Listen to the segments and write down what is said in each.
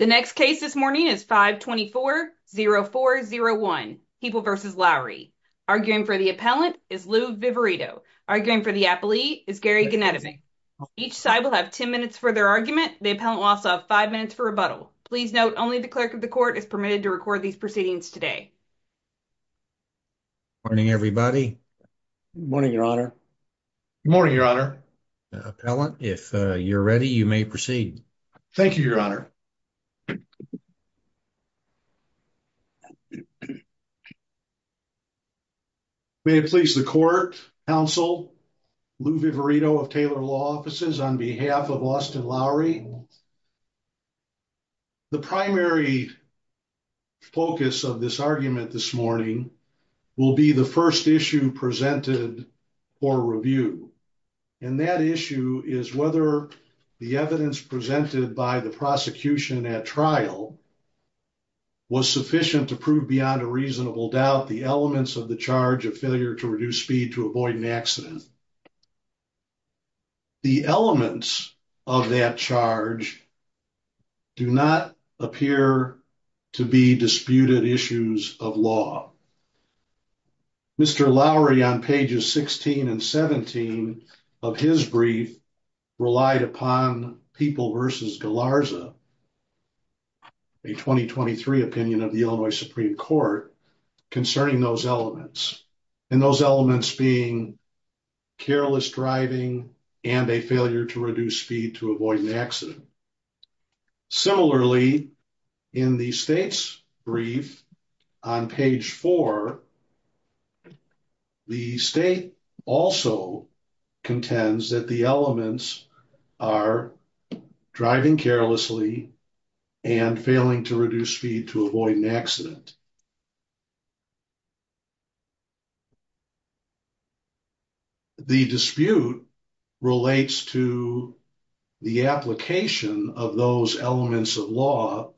The next case this morning is 524-0401 People v. Lowry. Arguing for the appellant is Lou Viverito. Arguing for the appellee is Gary Gennady. Each side will have 10 minutes for their argument. The appellant will also have five minutes for rebuttal. Please note only the clerk of the court is permitted to record these proceedings today. Morning, everybody. Morning, your honor. Morning, your honor. Appellant, if you're ready, you may proceed. Thank you, your honor. May it please the court, counsel, Lou Viverito of Taylor Law Offices on behalf of Austin Lowry. The primary focus of this argument this morning will be the first issue presented for review. And that issue is whether the evidence presented by the prosecution at trial was sufficient to prove beyond a reasonable doubt the elements of the charge of failure to reduce speed to avoid an accident. The elements of that charge do not appear to be disputed issues of law. Mr. Lowry on pages 16 and 17 of his brief relied upon People v. Galarza, a 2023 opinion of the Illinois Supreme Court, concerning those elements. And those elements being careless driving and a failure to reduce speed to avoid an accident. Similarly, in the state's brief on page four, the state also contends that the elements are driving carelessly and failing to reduce speed to avoid an accident. The dispute relates to the application of those elements of law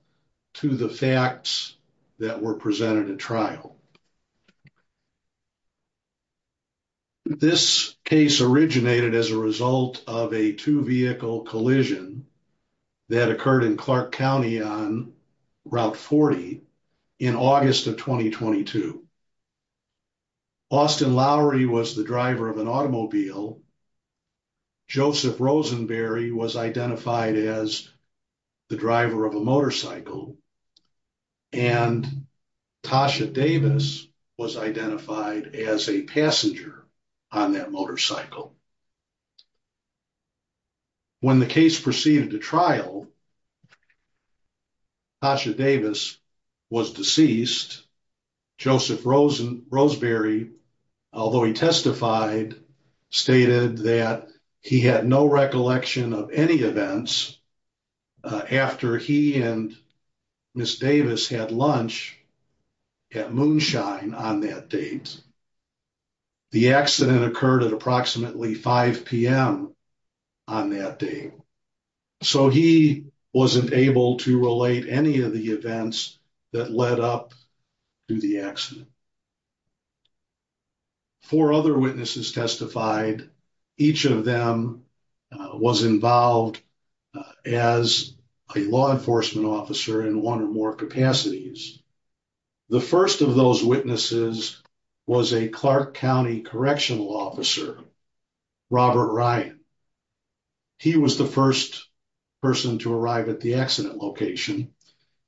to the facts that were presented at trial. This case originated as a result of a two vehicle collision that occurred in Clark County on August of 2022. Austin Lowry was the driver of an automobile. Joseph Rosenberry was identified as the driver of a motorcycle. And Tasha Davis was identified as a passenger on that motorcycle. When the case proceeded to trial, Tasha Davis was deceased. Joseph Rosenberry, although he testified, stated that he had no recollection of any events after he and Ms. Davis had lunch at Moonshine on that date. The accident occurred at approximately 5 p.m. on that day. So he wasn't able to relate any of the events that led up to the accident. Four other witnesses testified. Each of them was involved as a law enforcement officer in one or more capacities. The first of those witnesses was a Clark County correctional officer Robert Ryan. He was the first person to arrive at the accident location.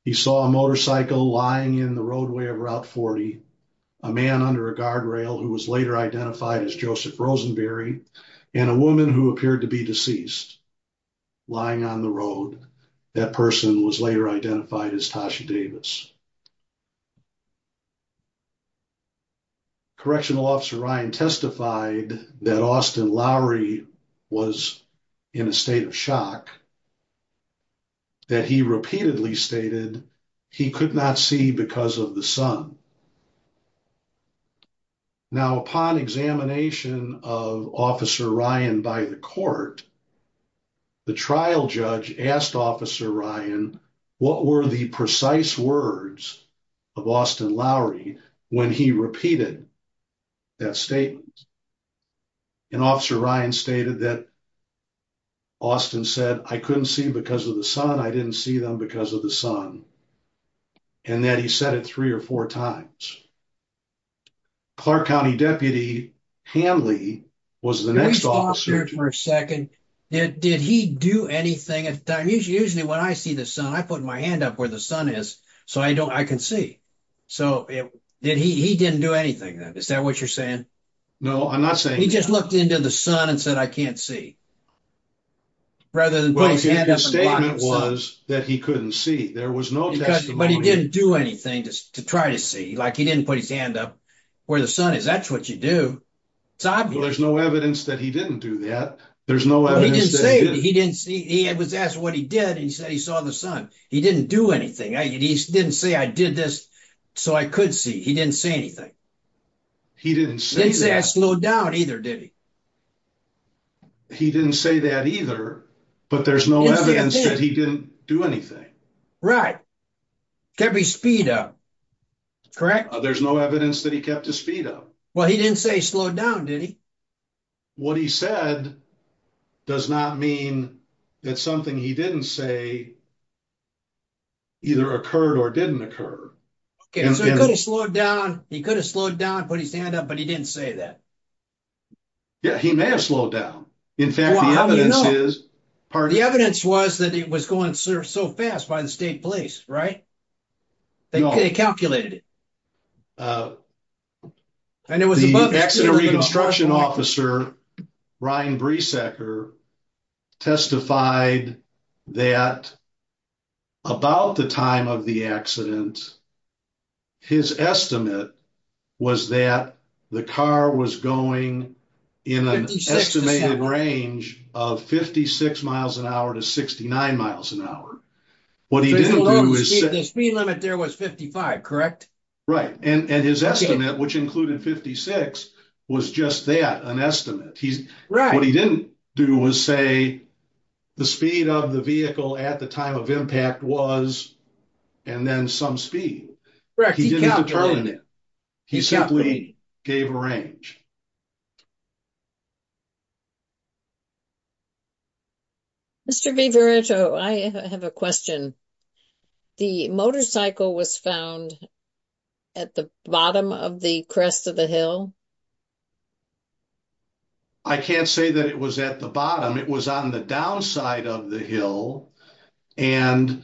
He saw a motorcycle lying in the roadway of Route 40, a man under a guardrail who was later identified as Joseph Rosenberry, and a woman who appeared to be deceased lying on the road. That person was later identified as Tasha Davis. Correctional officer Ryan testified that Austin Lowry was in a state of shock, that he repeatedly stated he could not see because of the sun. Now, upon examination of officer Ryan by the court, the trial judge asked officer Ryan what were the precise words of Austin Lowry when he repeated that statement. And officer Ryan stated that Austin said, I couldn't see because of the sun, I didn't see them because of the sun, and that he said it three or four times. Clark County deputy Hanley was the next officer. Can you pause here for a second? Did he do anything? Usually when I see the sun, I put my hand up where the sun is so I can see. So he didn't do anything then, is that what you're saying? No, I'm not saying that. He just looked into the sun and said, I can't see, rather than putting his hand up and blocking the sun. Well, his statement was that he couldn't see. There was no testimony. But he didn't do anything to try to see. Like, he didn't put his hand up where the sun is. That's what you do. It's obvious. Well, there's no evidence that he didn't do that. There's no evidence that he did. He didn't say he didn't see. He was asked what he did, and he said he saw the sun. He didn't do anything. He didn't say, I did this so I could see. He didn't say anything. He didn't say that. He didn't say I slowed down either, did he? He didn't say that either, but there's no evidence that he didn't do anything. Right. Kept his speed up, correct? There's no evidence that he kept his speed up. Well, he didn't say he slowed down, did he? What he said does not mean that something he didn't say either occurred or didn't occur. Okay, so he could have slowed down. He could have slowed down, put his hand up, but he didn't say that. Yeah, he may have slowed down. In fact, the evidence is... The evidence was that it was going so fast by the state police, right? They calculated it. The accident reconstruction officer, Ryan Breesacker, testified that about the time of the accident, his estimate was that the car was going in an estimated range of 56 miles an hour to 69 miles an hour. What he didn't do is... The speed limit there was 55, correct? Right, and his estimate, which included 56, was just that, an estimate. What he didn't do was say the speed of the vehicle at the time of impact was and then some speed. He didn't determine it. He simply gave a range. Mr. Viveretto, I have a question. The motorcycle was found at the bottom of the crest of the hill? I can't say that it was at the bottom. It was on the downside of the hill, and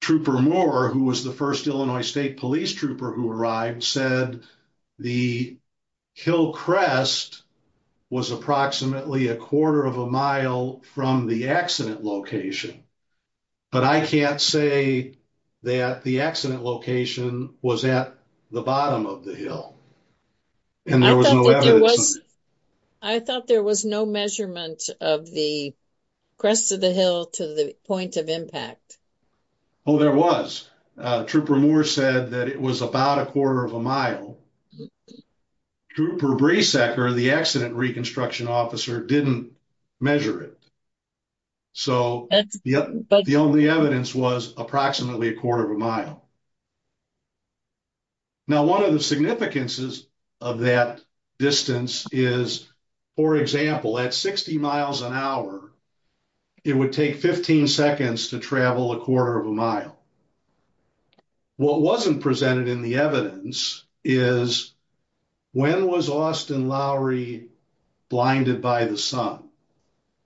Trooper Moore, who was the first Illinois State Police Trooper who arrived, said the hill crest was approximately a quarter of a mile from the accident location, but I can't say that the accident location was at the bottom of the hill, and there was no evidence. I thought there was no measurement of the crest of the hill to the point of impact. Oh, there was. Trooper Moore said that it was about a quarter of a mile. Trooper Bresecker, the accident reconstruction officer, didn't measure it, so the only evidence was approximately a quarter of a mile. Now, one of the significances of that distance is, for example, at 60 miles an hour, it would take 15 seconds to travel a quarter of a mile. What wasn't presented in the evidence is, when was Austin Lowry blinded by the sun?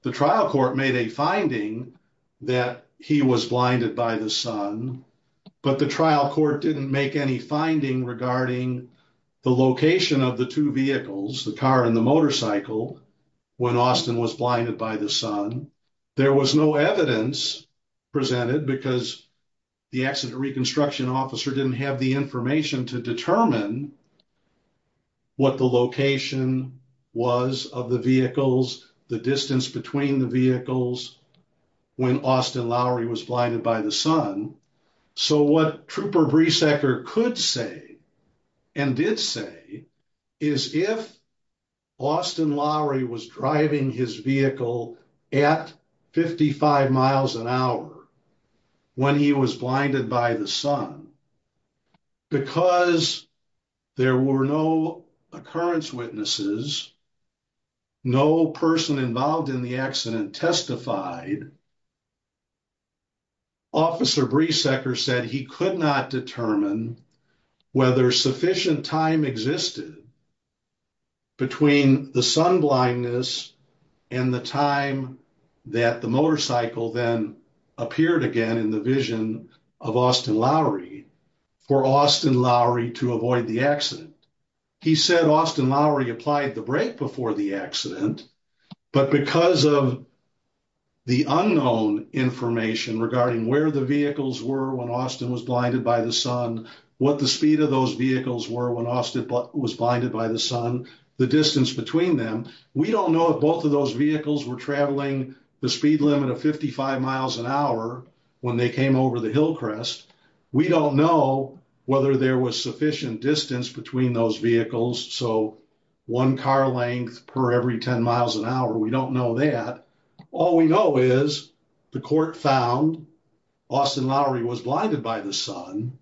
The trial court made a finding that he was blinded by the sun, but the trial court didn't make any finding regarding the location of the two vehicles, the car and the motorcycle, when Austin was blinded by the sun. There was no evidence presented because the accident reconstruction officer didn't have the information to determine what the location was of the vehicles, the distance between the vehicles, when Austin Lowry was blinded by the sun. So, what Trooper Bresecker could say and did say is, if Austin Lowry was driving his vehicle at 55 miles an hour when he was blinded by the sun, because there were no occurrence witnesses, no person involved in the accident testified, Officer Bresecker said he could not determine whether sufficient time existed between the sun blindness and the time that the motorcycle then appeared again in the vision of Austin Lowry for Austin Lowry to avoid the accident. He said Austin Lowry applied the brake before the accident, but because of the unknown information regarding where the vehicles were when Austin was blinded by the sun, what the speed of those vehicles were when Austin was blinded by the sun, the distance between them, we don't know if both of those vehicles were traveling the speed limit of 55 miles an hour when they came over the hill crest. We don't know whether there was sufficient distance between those vehicles, so one car length per every 10 miles an hour, we don't know that. All we know is the court found Austin Lowry was blinded by the sun,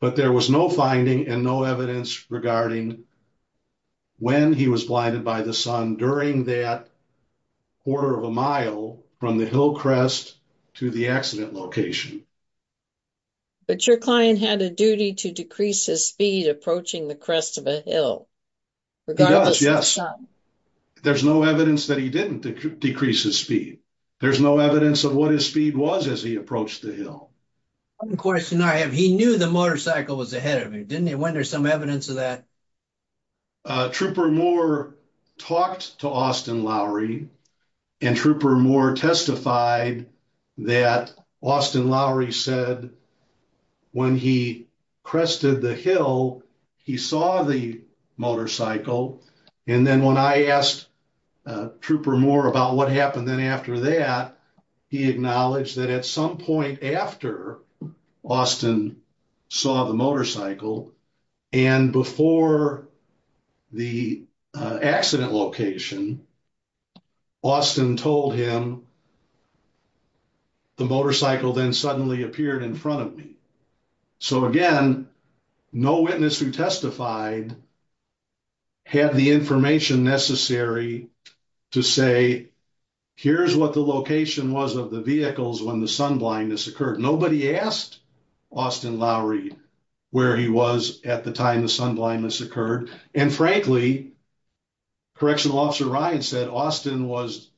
but there was no finding and no evidence regarding when he was blinded by the sun during that quarter of a mile from the hill crest to the accident location. But your client had a duty to decrease his speed approaching the crest of a hill. Yes, there's no evidence that he didn't decrease his speed. There's no evidence of what his speed was as he approached the hill. One question I have, he knew the motorcycle was ahead of him, didn't he? When there's some evidence of that? Trooper Moore talked to Austin Lowry, and Trooper Moore testified that Austin Lowry said when he crested the hill, he saw the motorcycle, and then when I asked Trooper Moore about what happened then after that, he acknowledged that at some point after Austin saw the motorcycle and before the accident location, Austin told him the motorcycle then suddenly appeared in front of me. So again, no witness who testified had the information necessary to say here's what the location was of the vehicles when the at the time the sun blindness occurred. And frankly, Correctional Officer Ryan said Austin was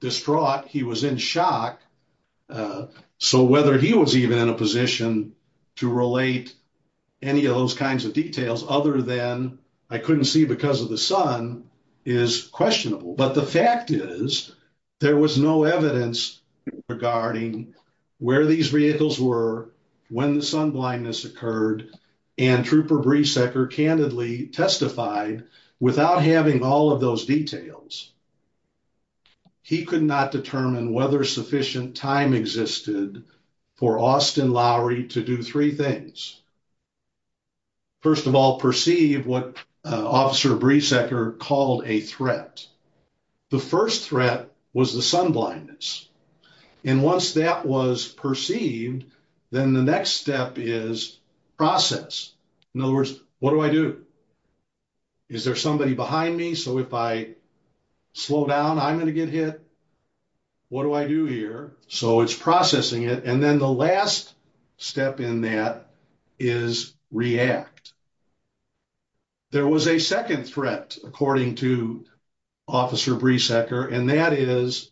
distraught. He was in shock. So whether he was even in a position to relate any of those kinds of details other than I couldn't see because of the sun is questionable. But the fact is there was no evidence regarding where these vehicles were when the sun blindness occurred and Trooper Breesecker candidly testified without having all of those details. He could not determine whether sufficient time existed for Austin Lowry to do three things. First of all, perceive what Officer Breesecker called a threat. The first threat was the sun blindness. And once that was perceived, then the next step is process. In other words, what do I do? Is there somebody behind me? So if I slow down, I'm going to get hit. What do I do here? So it's processing it. And then the last step in that is react. There was a second threat, according to Officer Breesecker, and that is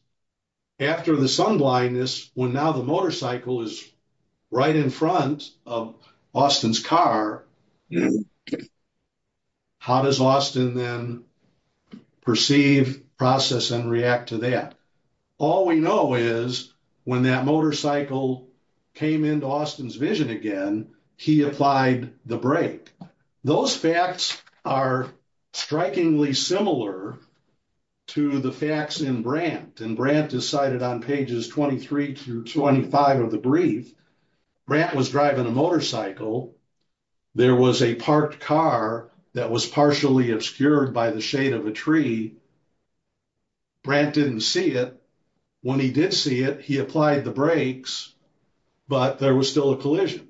after the sun blindness, when now the motorcycle is right in front of Austin's car, how does Austin then perceive, process, and react to that? All we know is when that motorcycle came into Austin's vision again, he applied the brake. Those facts are strikingly similar to the facts in Brandt. And Brandt decided on pages 23 through 25 of the brief, Brandt was driving a motorcycle. There was a parked car that was partially obscured by the shade of a tree. Brandt didn't see it. When he did see it, he applied the brakes, but there was still a collision.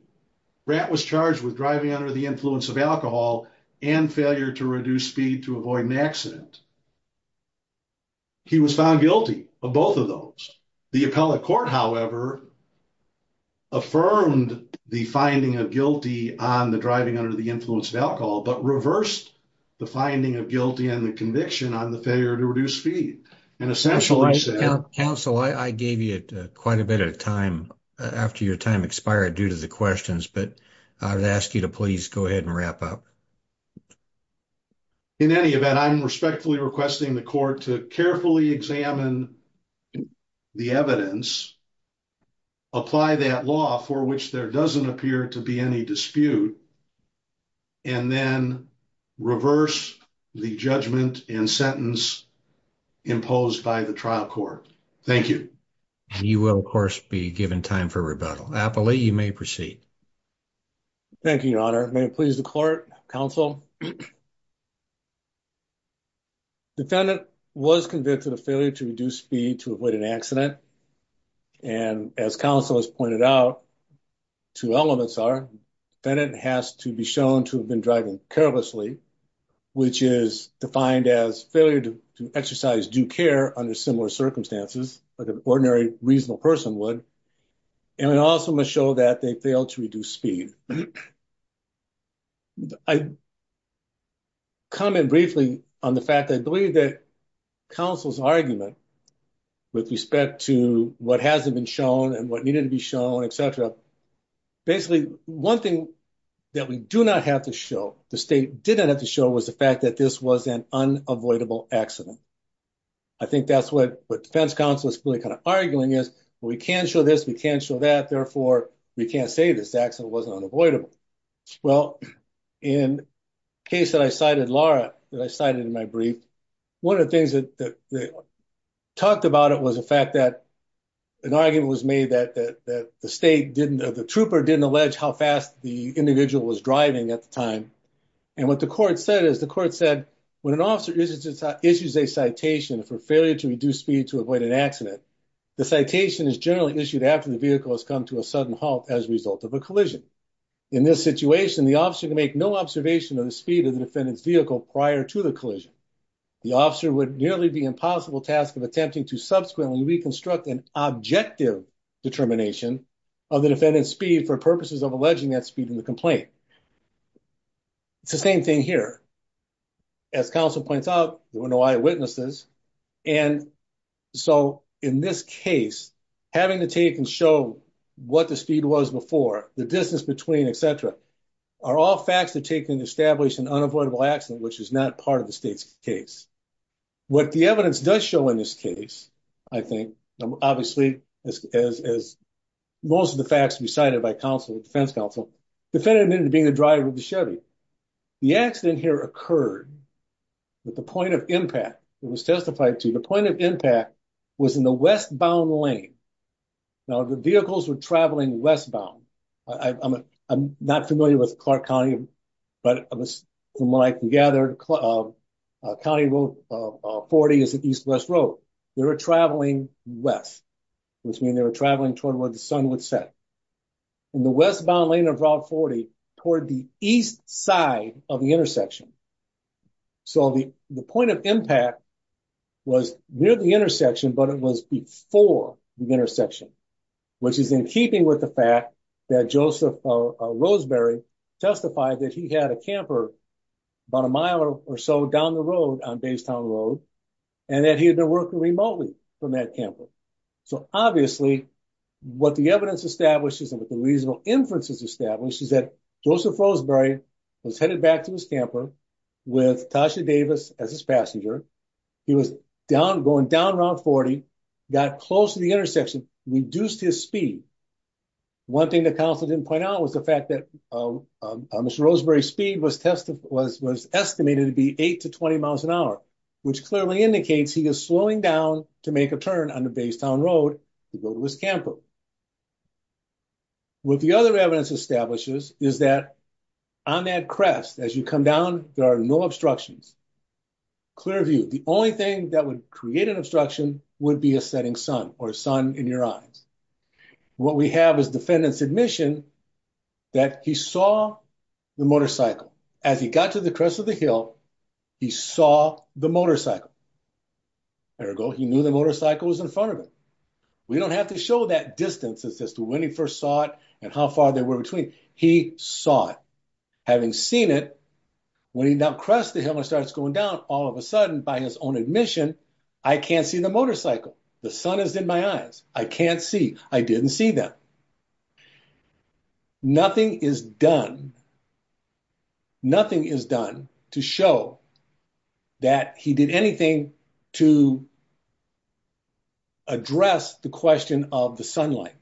Brandt was charged with driving under the influence of alcohol and failure to reduce speed to avoid an accident. He was found guilty of both of those. The appellate however, affirmed the finding of guilty on the driving under the influence of alcohol, but reversed the finding of guilty and the conviction on the failure to reduce speed. Counsel, I gave you quite a bit of time after your time expired due to the questions, but I would ask you to please go ahead and wrap up. In any event, I'm respectfully requesting the court to carefully examine the evidence, apply that law for which there doesn't appear to be any dispute, and then reverse the judgment and sentence imposed by the trial court. Thank you. And you will of course be given time for rebuttal. Appellate, you may proceed. Thank you, your honor. May it please the court, counsel. Defendant was convicted of failure to reduce speed to avoid an accident. And as counsel has pointed out, two elements are defendant has to be shown to have been driving carelessly, which is defined as failure to exercise due care under similar circumstances, like an ordinary reasonable person would. And it also must show that they failed to reduce speed. And I comment briefly on the fact that I believe that counsel's argument with respect to what hasn't been shown and what needed to be shown, et cetera, basically one thing that we do not have to show, the state didn't have to show was the fact that this was an unavoidable accident. I think that's what defense counsel is really kind of arguing is, well, we can show this, we can show that, therefore we can't say this accident wasn't unavoidable. Well, in case that I cited, Laura, that I cited in my brief, one of the things that talked about it was the fact that an argument was made that the state didn't, the trooper didn't allege how fast the individual was driving at the time. And what the court said is the court said, when an officer issues a citation for failure to reduce speed to avoid an accident, the citation is generally issued after the vehicle has come to a sudden halt as a result of a collision. In this situation, the officer can make no observation of the speed of the defendant's vehicle prior to the collision. The officer would nearly be impossible task of attempting to subsequently reconstruct an objective determination of the defendant's speed for purposes of alleging that speed in the complaint. It's the same thing here. As counsel points out, there were no eyewitnesses and so in this case, having to take and show what the speed was before, the distance between, et cetera, are all facts that take into establish an unavoidable accident, which is not part of the state's case. What the evidence does show in this case, I think, obviously, as most of the facts recited by counsel, defense counsel, the defendant admitted to being the driver of the Chevy. The accident here occurred with the point of impact that was testified to. The point of impact was in the westbound lane. Now, the vehicles were traveling westbound. I'm not familiar with Clark County, but from what I can gather, County Road 40 is an east-west road. They were traveling west, which means they were traveling toward where the sun would set. In the westbound lane of Route 40, toward the east side of the intersection. The point of impact was near the intersection, but it was before the intersection, which is in keeping with the fact that Joseph Roseberry testified that he had a camper about a mile or so down the road on Baystown Road, and that he had been working remotely from that camper. Obviously, what the evidence establishes and what the reasonable inferences establish is that Joseph Roseberry was headed back to his camper with Tasha Davis as his passenger. He was going down Route 40, got close to the intersection, reduced his speed. One thing that counsel didn't point out was the fact that Mr. Roseberry's speed was estimated to be 8 to 20 miles an hour, which clearly indicates he is slowing down to make a turn on the Baystown Road to go to his camper. What the other evidence establishes is that on that crest, as you come down, there are no obstructions. Clear view. The only thing that would create an obstruction would be a setting sun or sun in your eyes. What we have is defendant's admission that he saw the motorcycle. As he got to the crest of the hill, he saw the motorcycle. Ergo, he knew the motorcycle was in front of him. We don't have to show that distance as to when he first saw it and how far they were between. He saw it. Having seen it, when he now crests the hill and starts going down, all of a sudden, by his own admission, I can't see the motorcycle. The sun is in my eyes. I can't see. I didn't see them. Nothing is done to show that he did anything to address the question of the sunlight.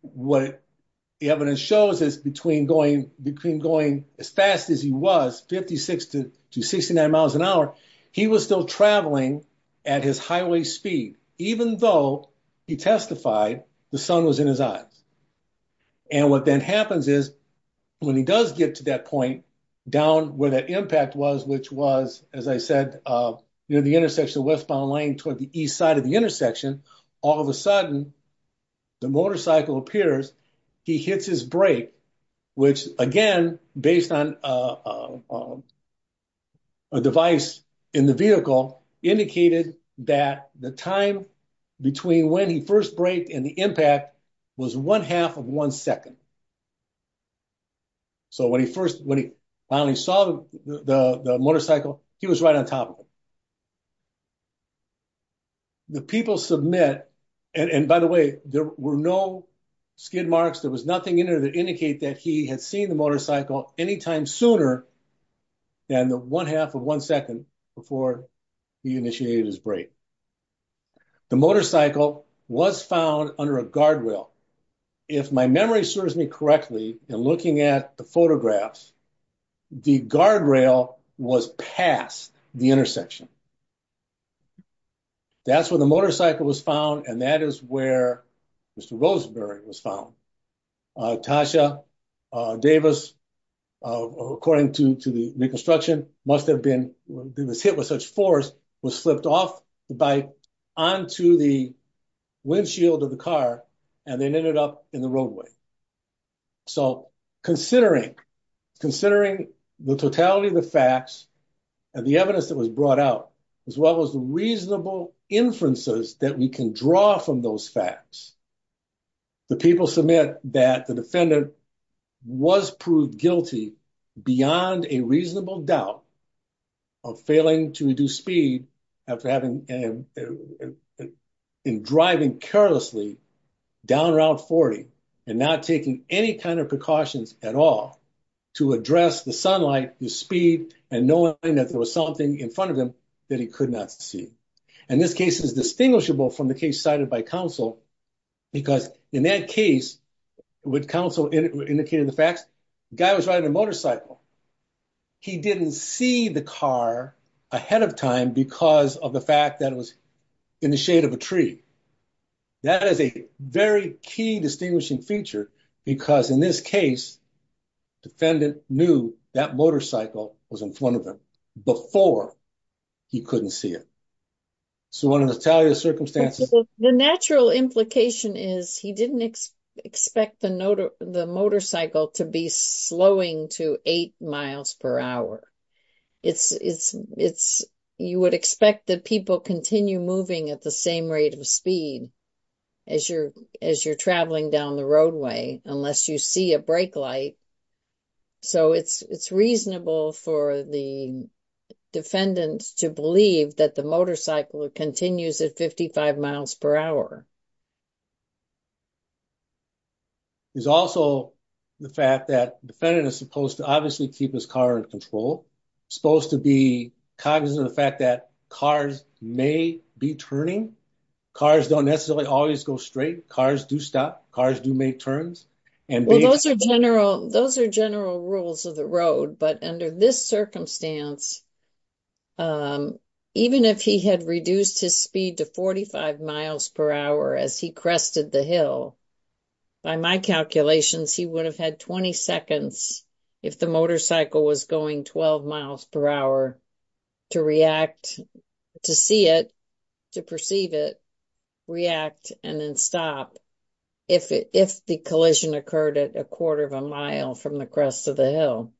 What the evidence shows is between going as fast as he was, 56 to 69 miles an hour, he was still traveling at his highway speed, even though he testified the sun was in his eyes. What then happens is, when he does get to that point down where that impact was, which was, as I said, near the intersection of Westbound Lane toward the east side of the intersection, all of a sudden, the motorcycle appears. He hits his brake, which, again, based on a device in the vehicle, indicated that the time between when he first braked and the impact was one half of one second. When he finally saw the motorcycle, he was right on top of it. The people submit, and by the way, there were no skid marks. There was nothing in there that that he had seen the motorcycle any time sooner than the one half of one second before he initiated his brake. The motorcycle was found under a guardrail. If my memory serves me correctly in looking at the photographs, the guardrail was past the intersection. That's where the motorcycle was found, and that is where Mr. Roseberry was found. Tasha Davis, according to the reconstruction, must have been hit with such force, was flipped off the bike onto the windshield of the car, and then ended up in the roadway. So, considering the totality of the facts and the evidence that was brought out, as well as the reasonable inferences that we can draw from those facts, the people submit that the defendant was proved guilty beyond a reasonable doubt of failing to reduce speed after having and driving carelessly down Route 40 and not taking any kind of precautions at all to address the sunlight, the speed, and knowing that there in front of him that he could not see. And this case is distinguishable from the case cited by counsel, because in that case, what counsel indicated the facts, the guy was riding a motorcycle. He didn't see the car ahead of time because of the fact that it was in the shade of a tree. That is a very key distinguishing feature, because in this case, defendant knew that motorcycle was in front of him before he couldn't see it. So, under the circumstances... The natural implication is he didn't expect the motorcycle to be slowing to eight miles per hour. You would expect that people continue moving at the same rate of speed as you're traveling down the roadway unless you see a brake light. So, it's reasonable for the defendant to believe that the motorcycle continues at 55 miles per hour. There's also the fact that defendant is supposed to obviously keep his car in control, supposed to be cognizant of the fact that cars may be turning. Cars don't necessarily always go straight. Cars do stop. Cars do make turns. Well, those are general rules of the road, but under this circumstance, even if he had reduced his speed to 45 miles per hour as he crested the hill, by my calculations, he would have had 20 seconds if the motorcycle was going 12 miles per hour to react, to see it, to perceive it, react, and then stop if the collision occurred at a quarter of a mile from the crest of the hill.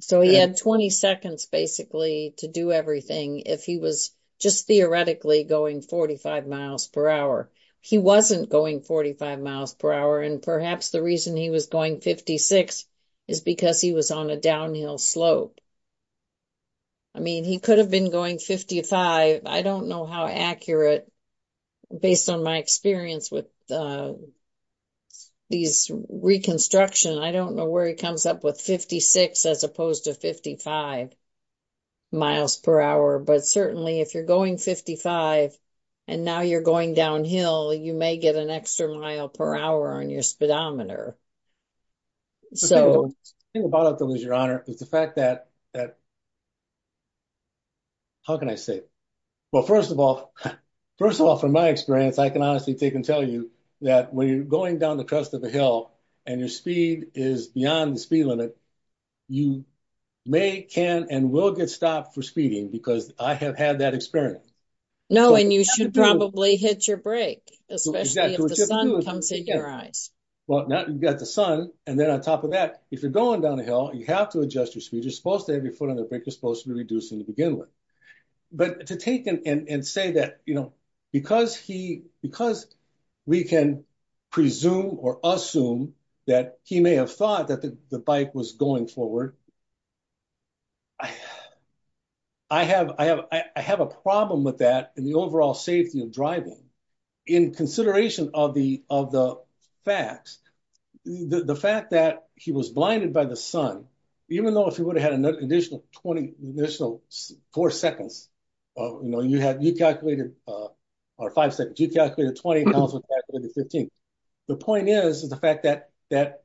So, he had 20 seconds basically to do everything if he was just theoretically going 45 miles per hour. He wasn't going 45 miles per hour, and perhaps the reason he was going 56 is because he was on a downhill slope. I mean, he could have been going 55. I don't know how accurate, based on my experience with these reconstruction, I don't know where he comes up with 56 as opposed to 55 miles per hour, but certainly if you're going 55 and now you're going downhill, you may get an extra mile per hour on your speedometer. So, the thing about it, though, is your honor, is the fact that, how can I say it? Well, first of all, first of all, from my experience, I can honestly take and tell you that when you're going down the crest of the hill and your speed is beyond the speed limit, you may, can, and will get stopped for speeding because I have had that experience. No, and you should probably hit your brake, especially if the sun comes in your eyes. Well, now you've got the sun, and then on top of that, if you're going downhill, you have to adjust your speed. You're supposed to have your foot on the brake. You're supposed to be reducing to begin with, but to take and say that, you know, because he, because we can presume or assume that he may have thought that the bike was going forward. I have a problem with that in the overall safety of driving. In consideration of the facts, the fact that he was blinded by the sun, even though if he would have had an additional 20, an additional four seconds, you know, you had, you calculated, or five seconds, you calculated 20, I also calculated 15. The point is, is the fact that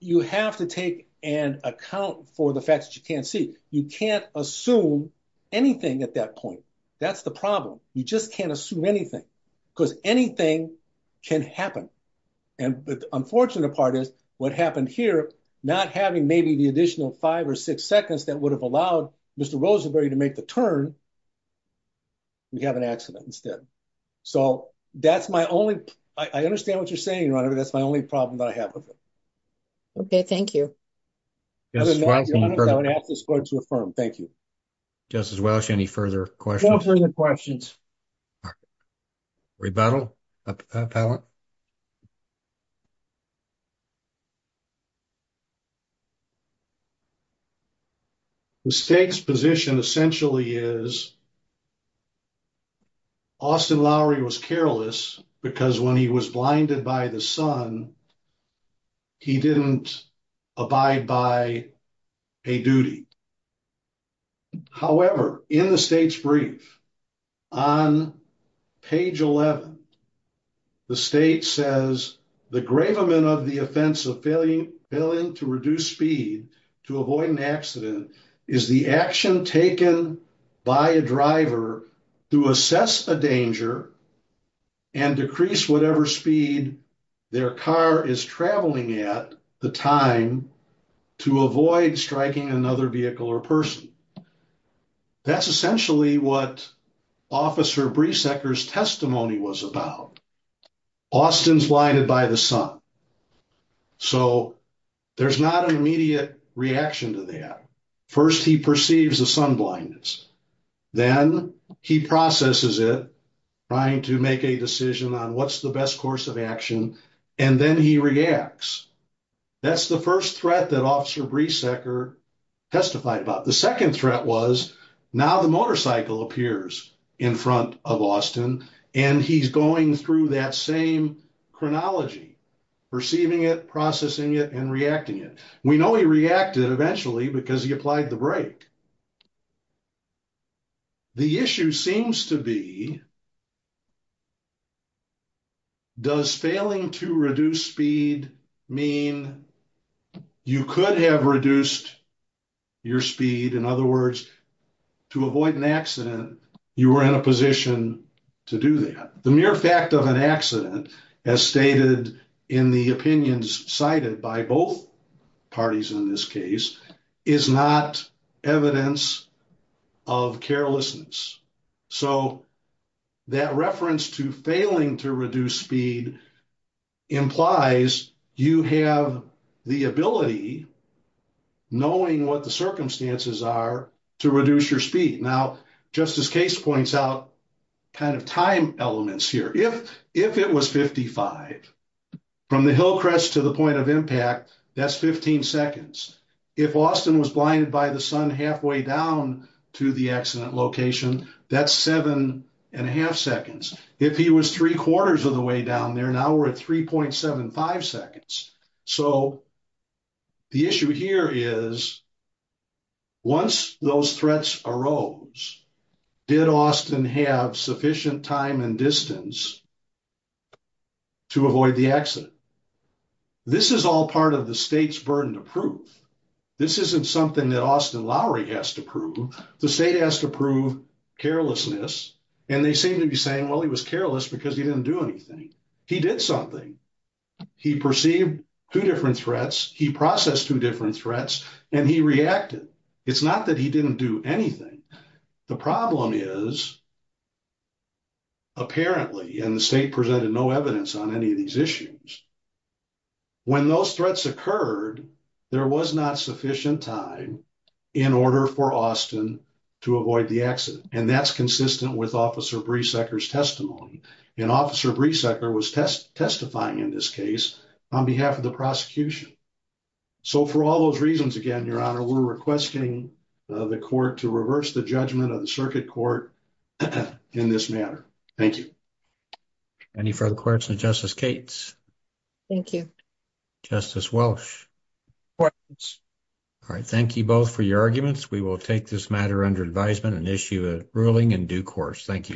you have to take and account for the facts that you can't see. You can't assume anything at that point. That's the problem. You just can't assume anything because anything can happen, and the unfortunate part is what happened here, not having maybe the additional five or six seconds that would have allowed Mr. Rosenberry to make the turn, we have an accident instead. So that's my only, I understand what you're saying, your honor, but that's my only problem that I have with it. Okay, thank you. Thank you. Justice Welch, any further questions? No further questions. Rebuttal? The state's position essentially is Austin Lowery was careless because when he was blinded by the sun, he didn't abide by a duty. However, in the state's brief, on page 11, the state says, the gravement of the offense of failing to reduce speed to avoid an accident is the action taken by a driver to assess a danger and decrease whatever speed their car is traveling at the time to avoid striking another vehicle or person. That's essentially what Officer Breesecker's testimony was about. Austin's blinded by the sun, so there's not an immediate reaction to that. First, he perceives the sun blindness, then he processes it, trying to make a decision on what's the best course of action, and then he reacts. That's the first threat that Officer Breesecker testified about. The second threat was now the motorcycle appears in front of Austin, and he's going through that same chronology, perceiving it, processing it, and reacting it. We know he reacted eventually because he applied the brake. The issue seems to be, does failing to reduce speed mean you could have reduced your speed? In other words, to avoid an accident, you were in a position to do that. The mere fact of an accident, as stated in the opinions cited by both parties in this case, is not evidence of carelessness. That reference to failing to reduce speed implies you have the ability, knowing what the circumstances are, to reduce your speed. Now, just as Case points out, kind of time elements here. If it was 55 from the hill crest to the point of impact, that's 15 seconds. If Austin was blinded by the sun halfway down to the accident location, that's seven and a half seconds. If he was three quarters of the way down there, now we're at 3.75 seconds. So the issue here is, once those threats arose, did Austin have sufficient time and distance to avoid the accident? This is all part of the state's burden to prove. This isn't something that Austin Lowry has to prove. The state has to prove carelessness, and they seem to be saying, well, he was careless because he didn't do anything. He did something. He perceived two different threats, he processed two different threats, and he reacted. It's not that he didn't do anything. The problem is, apparently, and the state presented no evidence on any of these issues, when those threats occurred, there was not sufficient time in order for Austin to avoid the accident. And that's consistent with Officer Breesecker's testimony. And Officer Breesecker was testifying in this case on behalf of the prosecution. So for all those reasons, again, Your Honor, we're requesting the court to reverse the judgment of the circuit court in this matter. Thank you. Any further questions of Justice Cates? Thank you. Justice Welsh? Questions? All right. Thank you both for your arguments. We will take this matter under advisement and issue a ruling in due course. Thank you.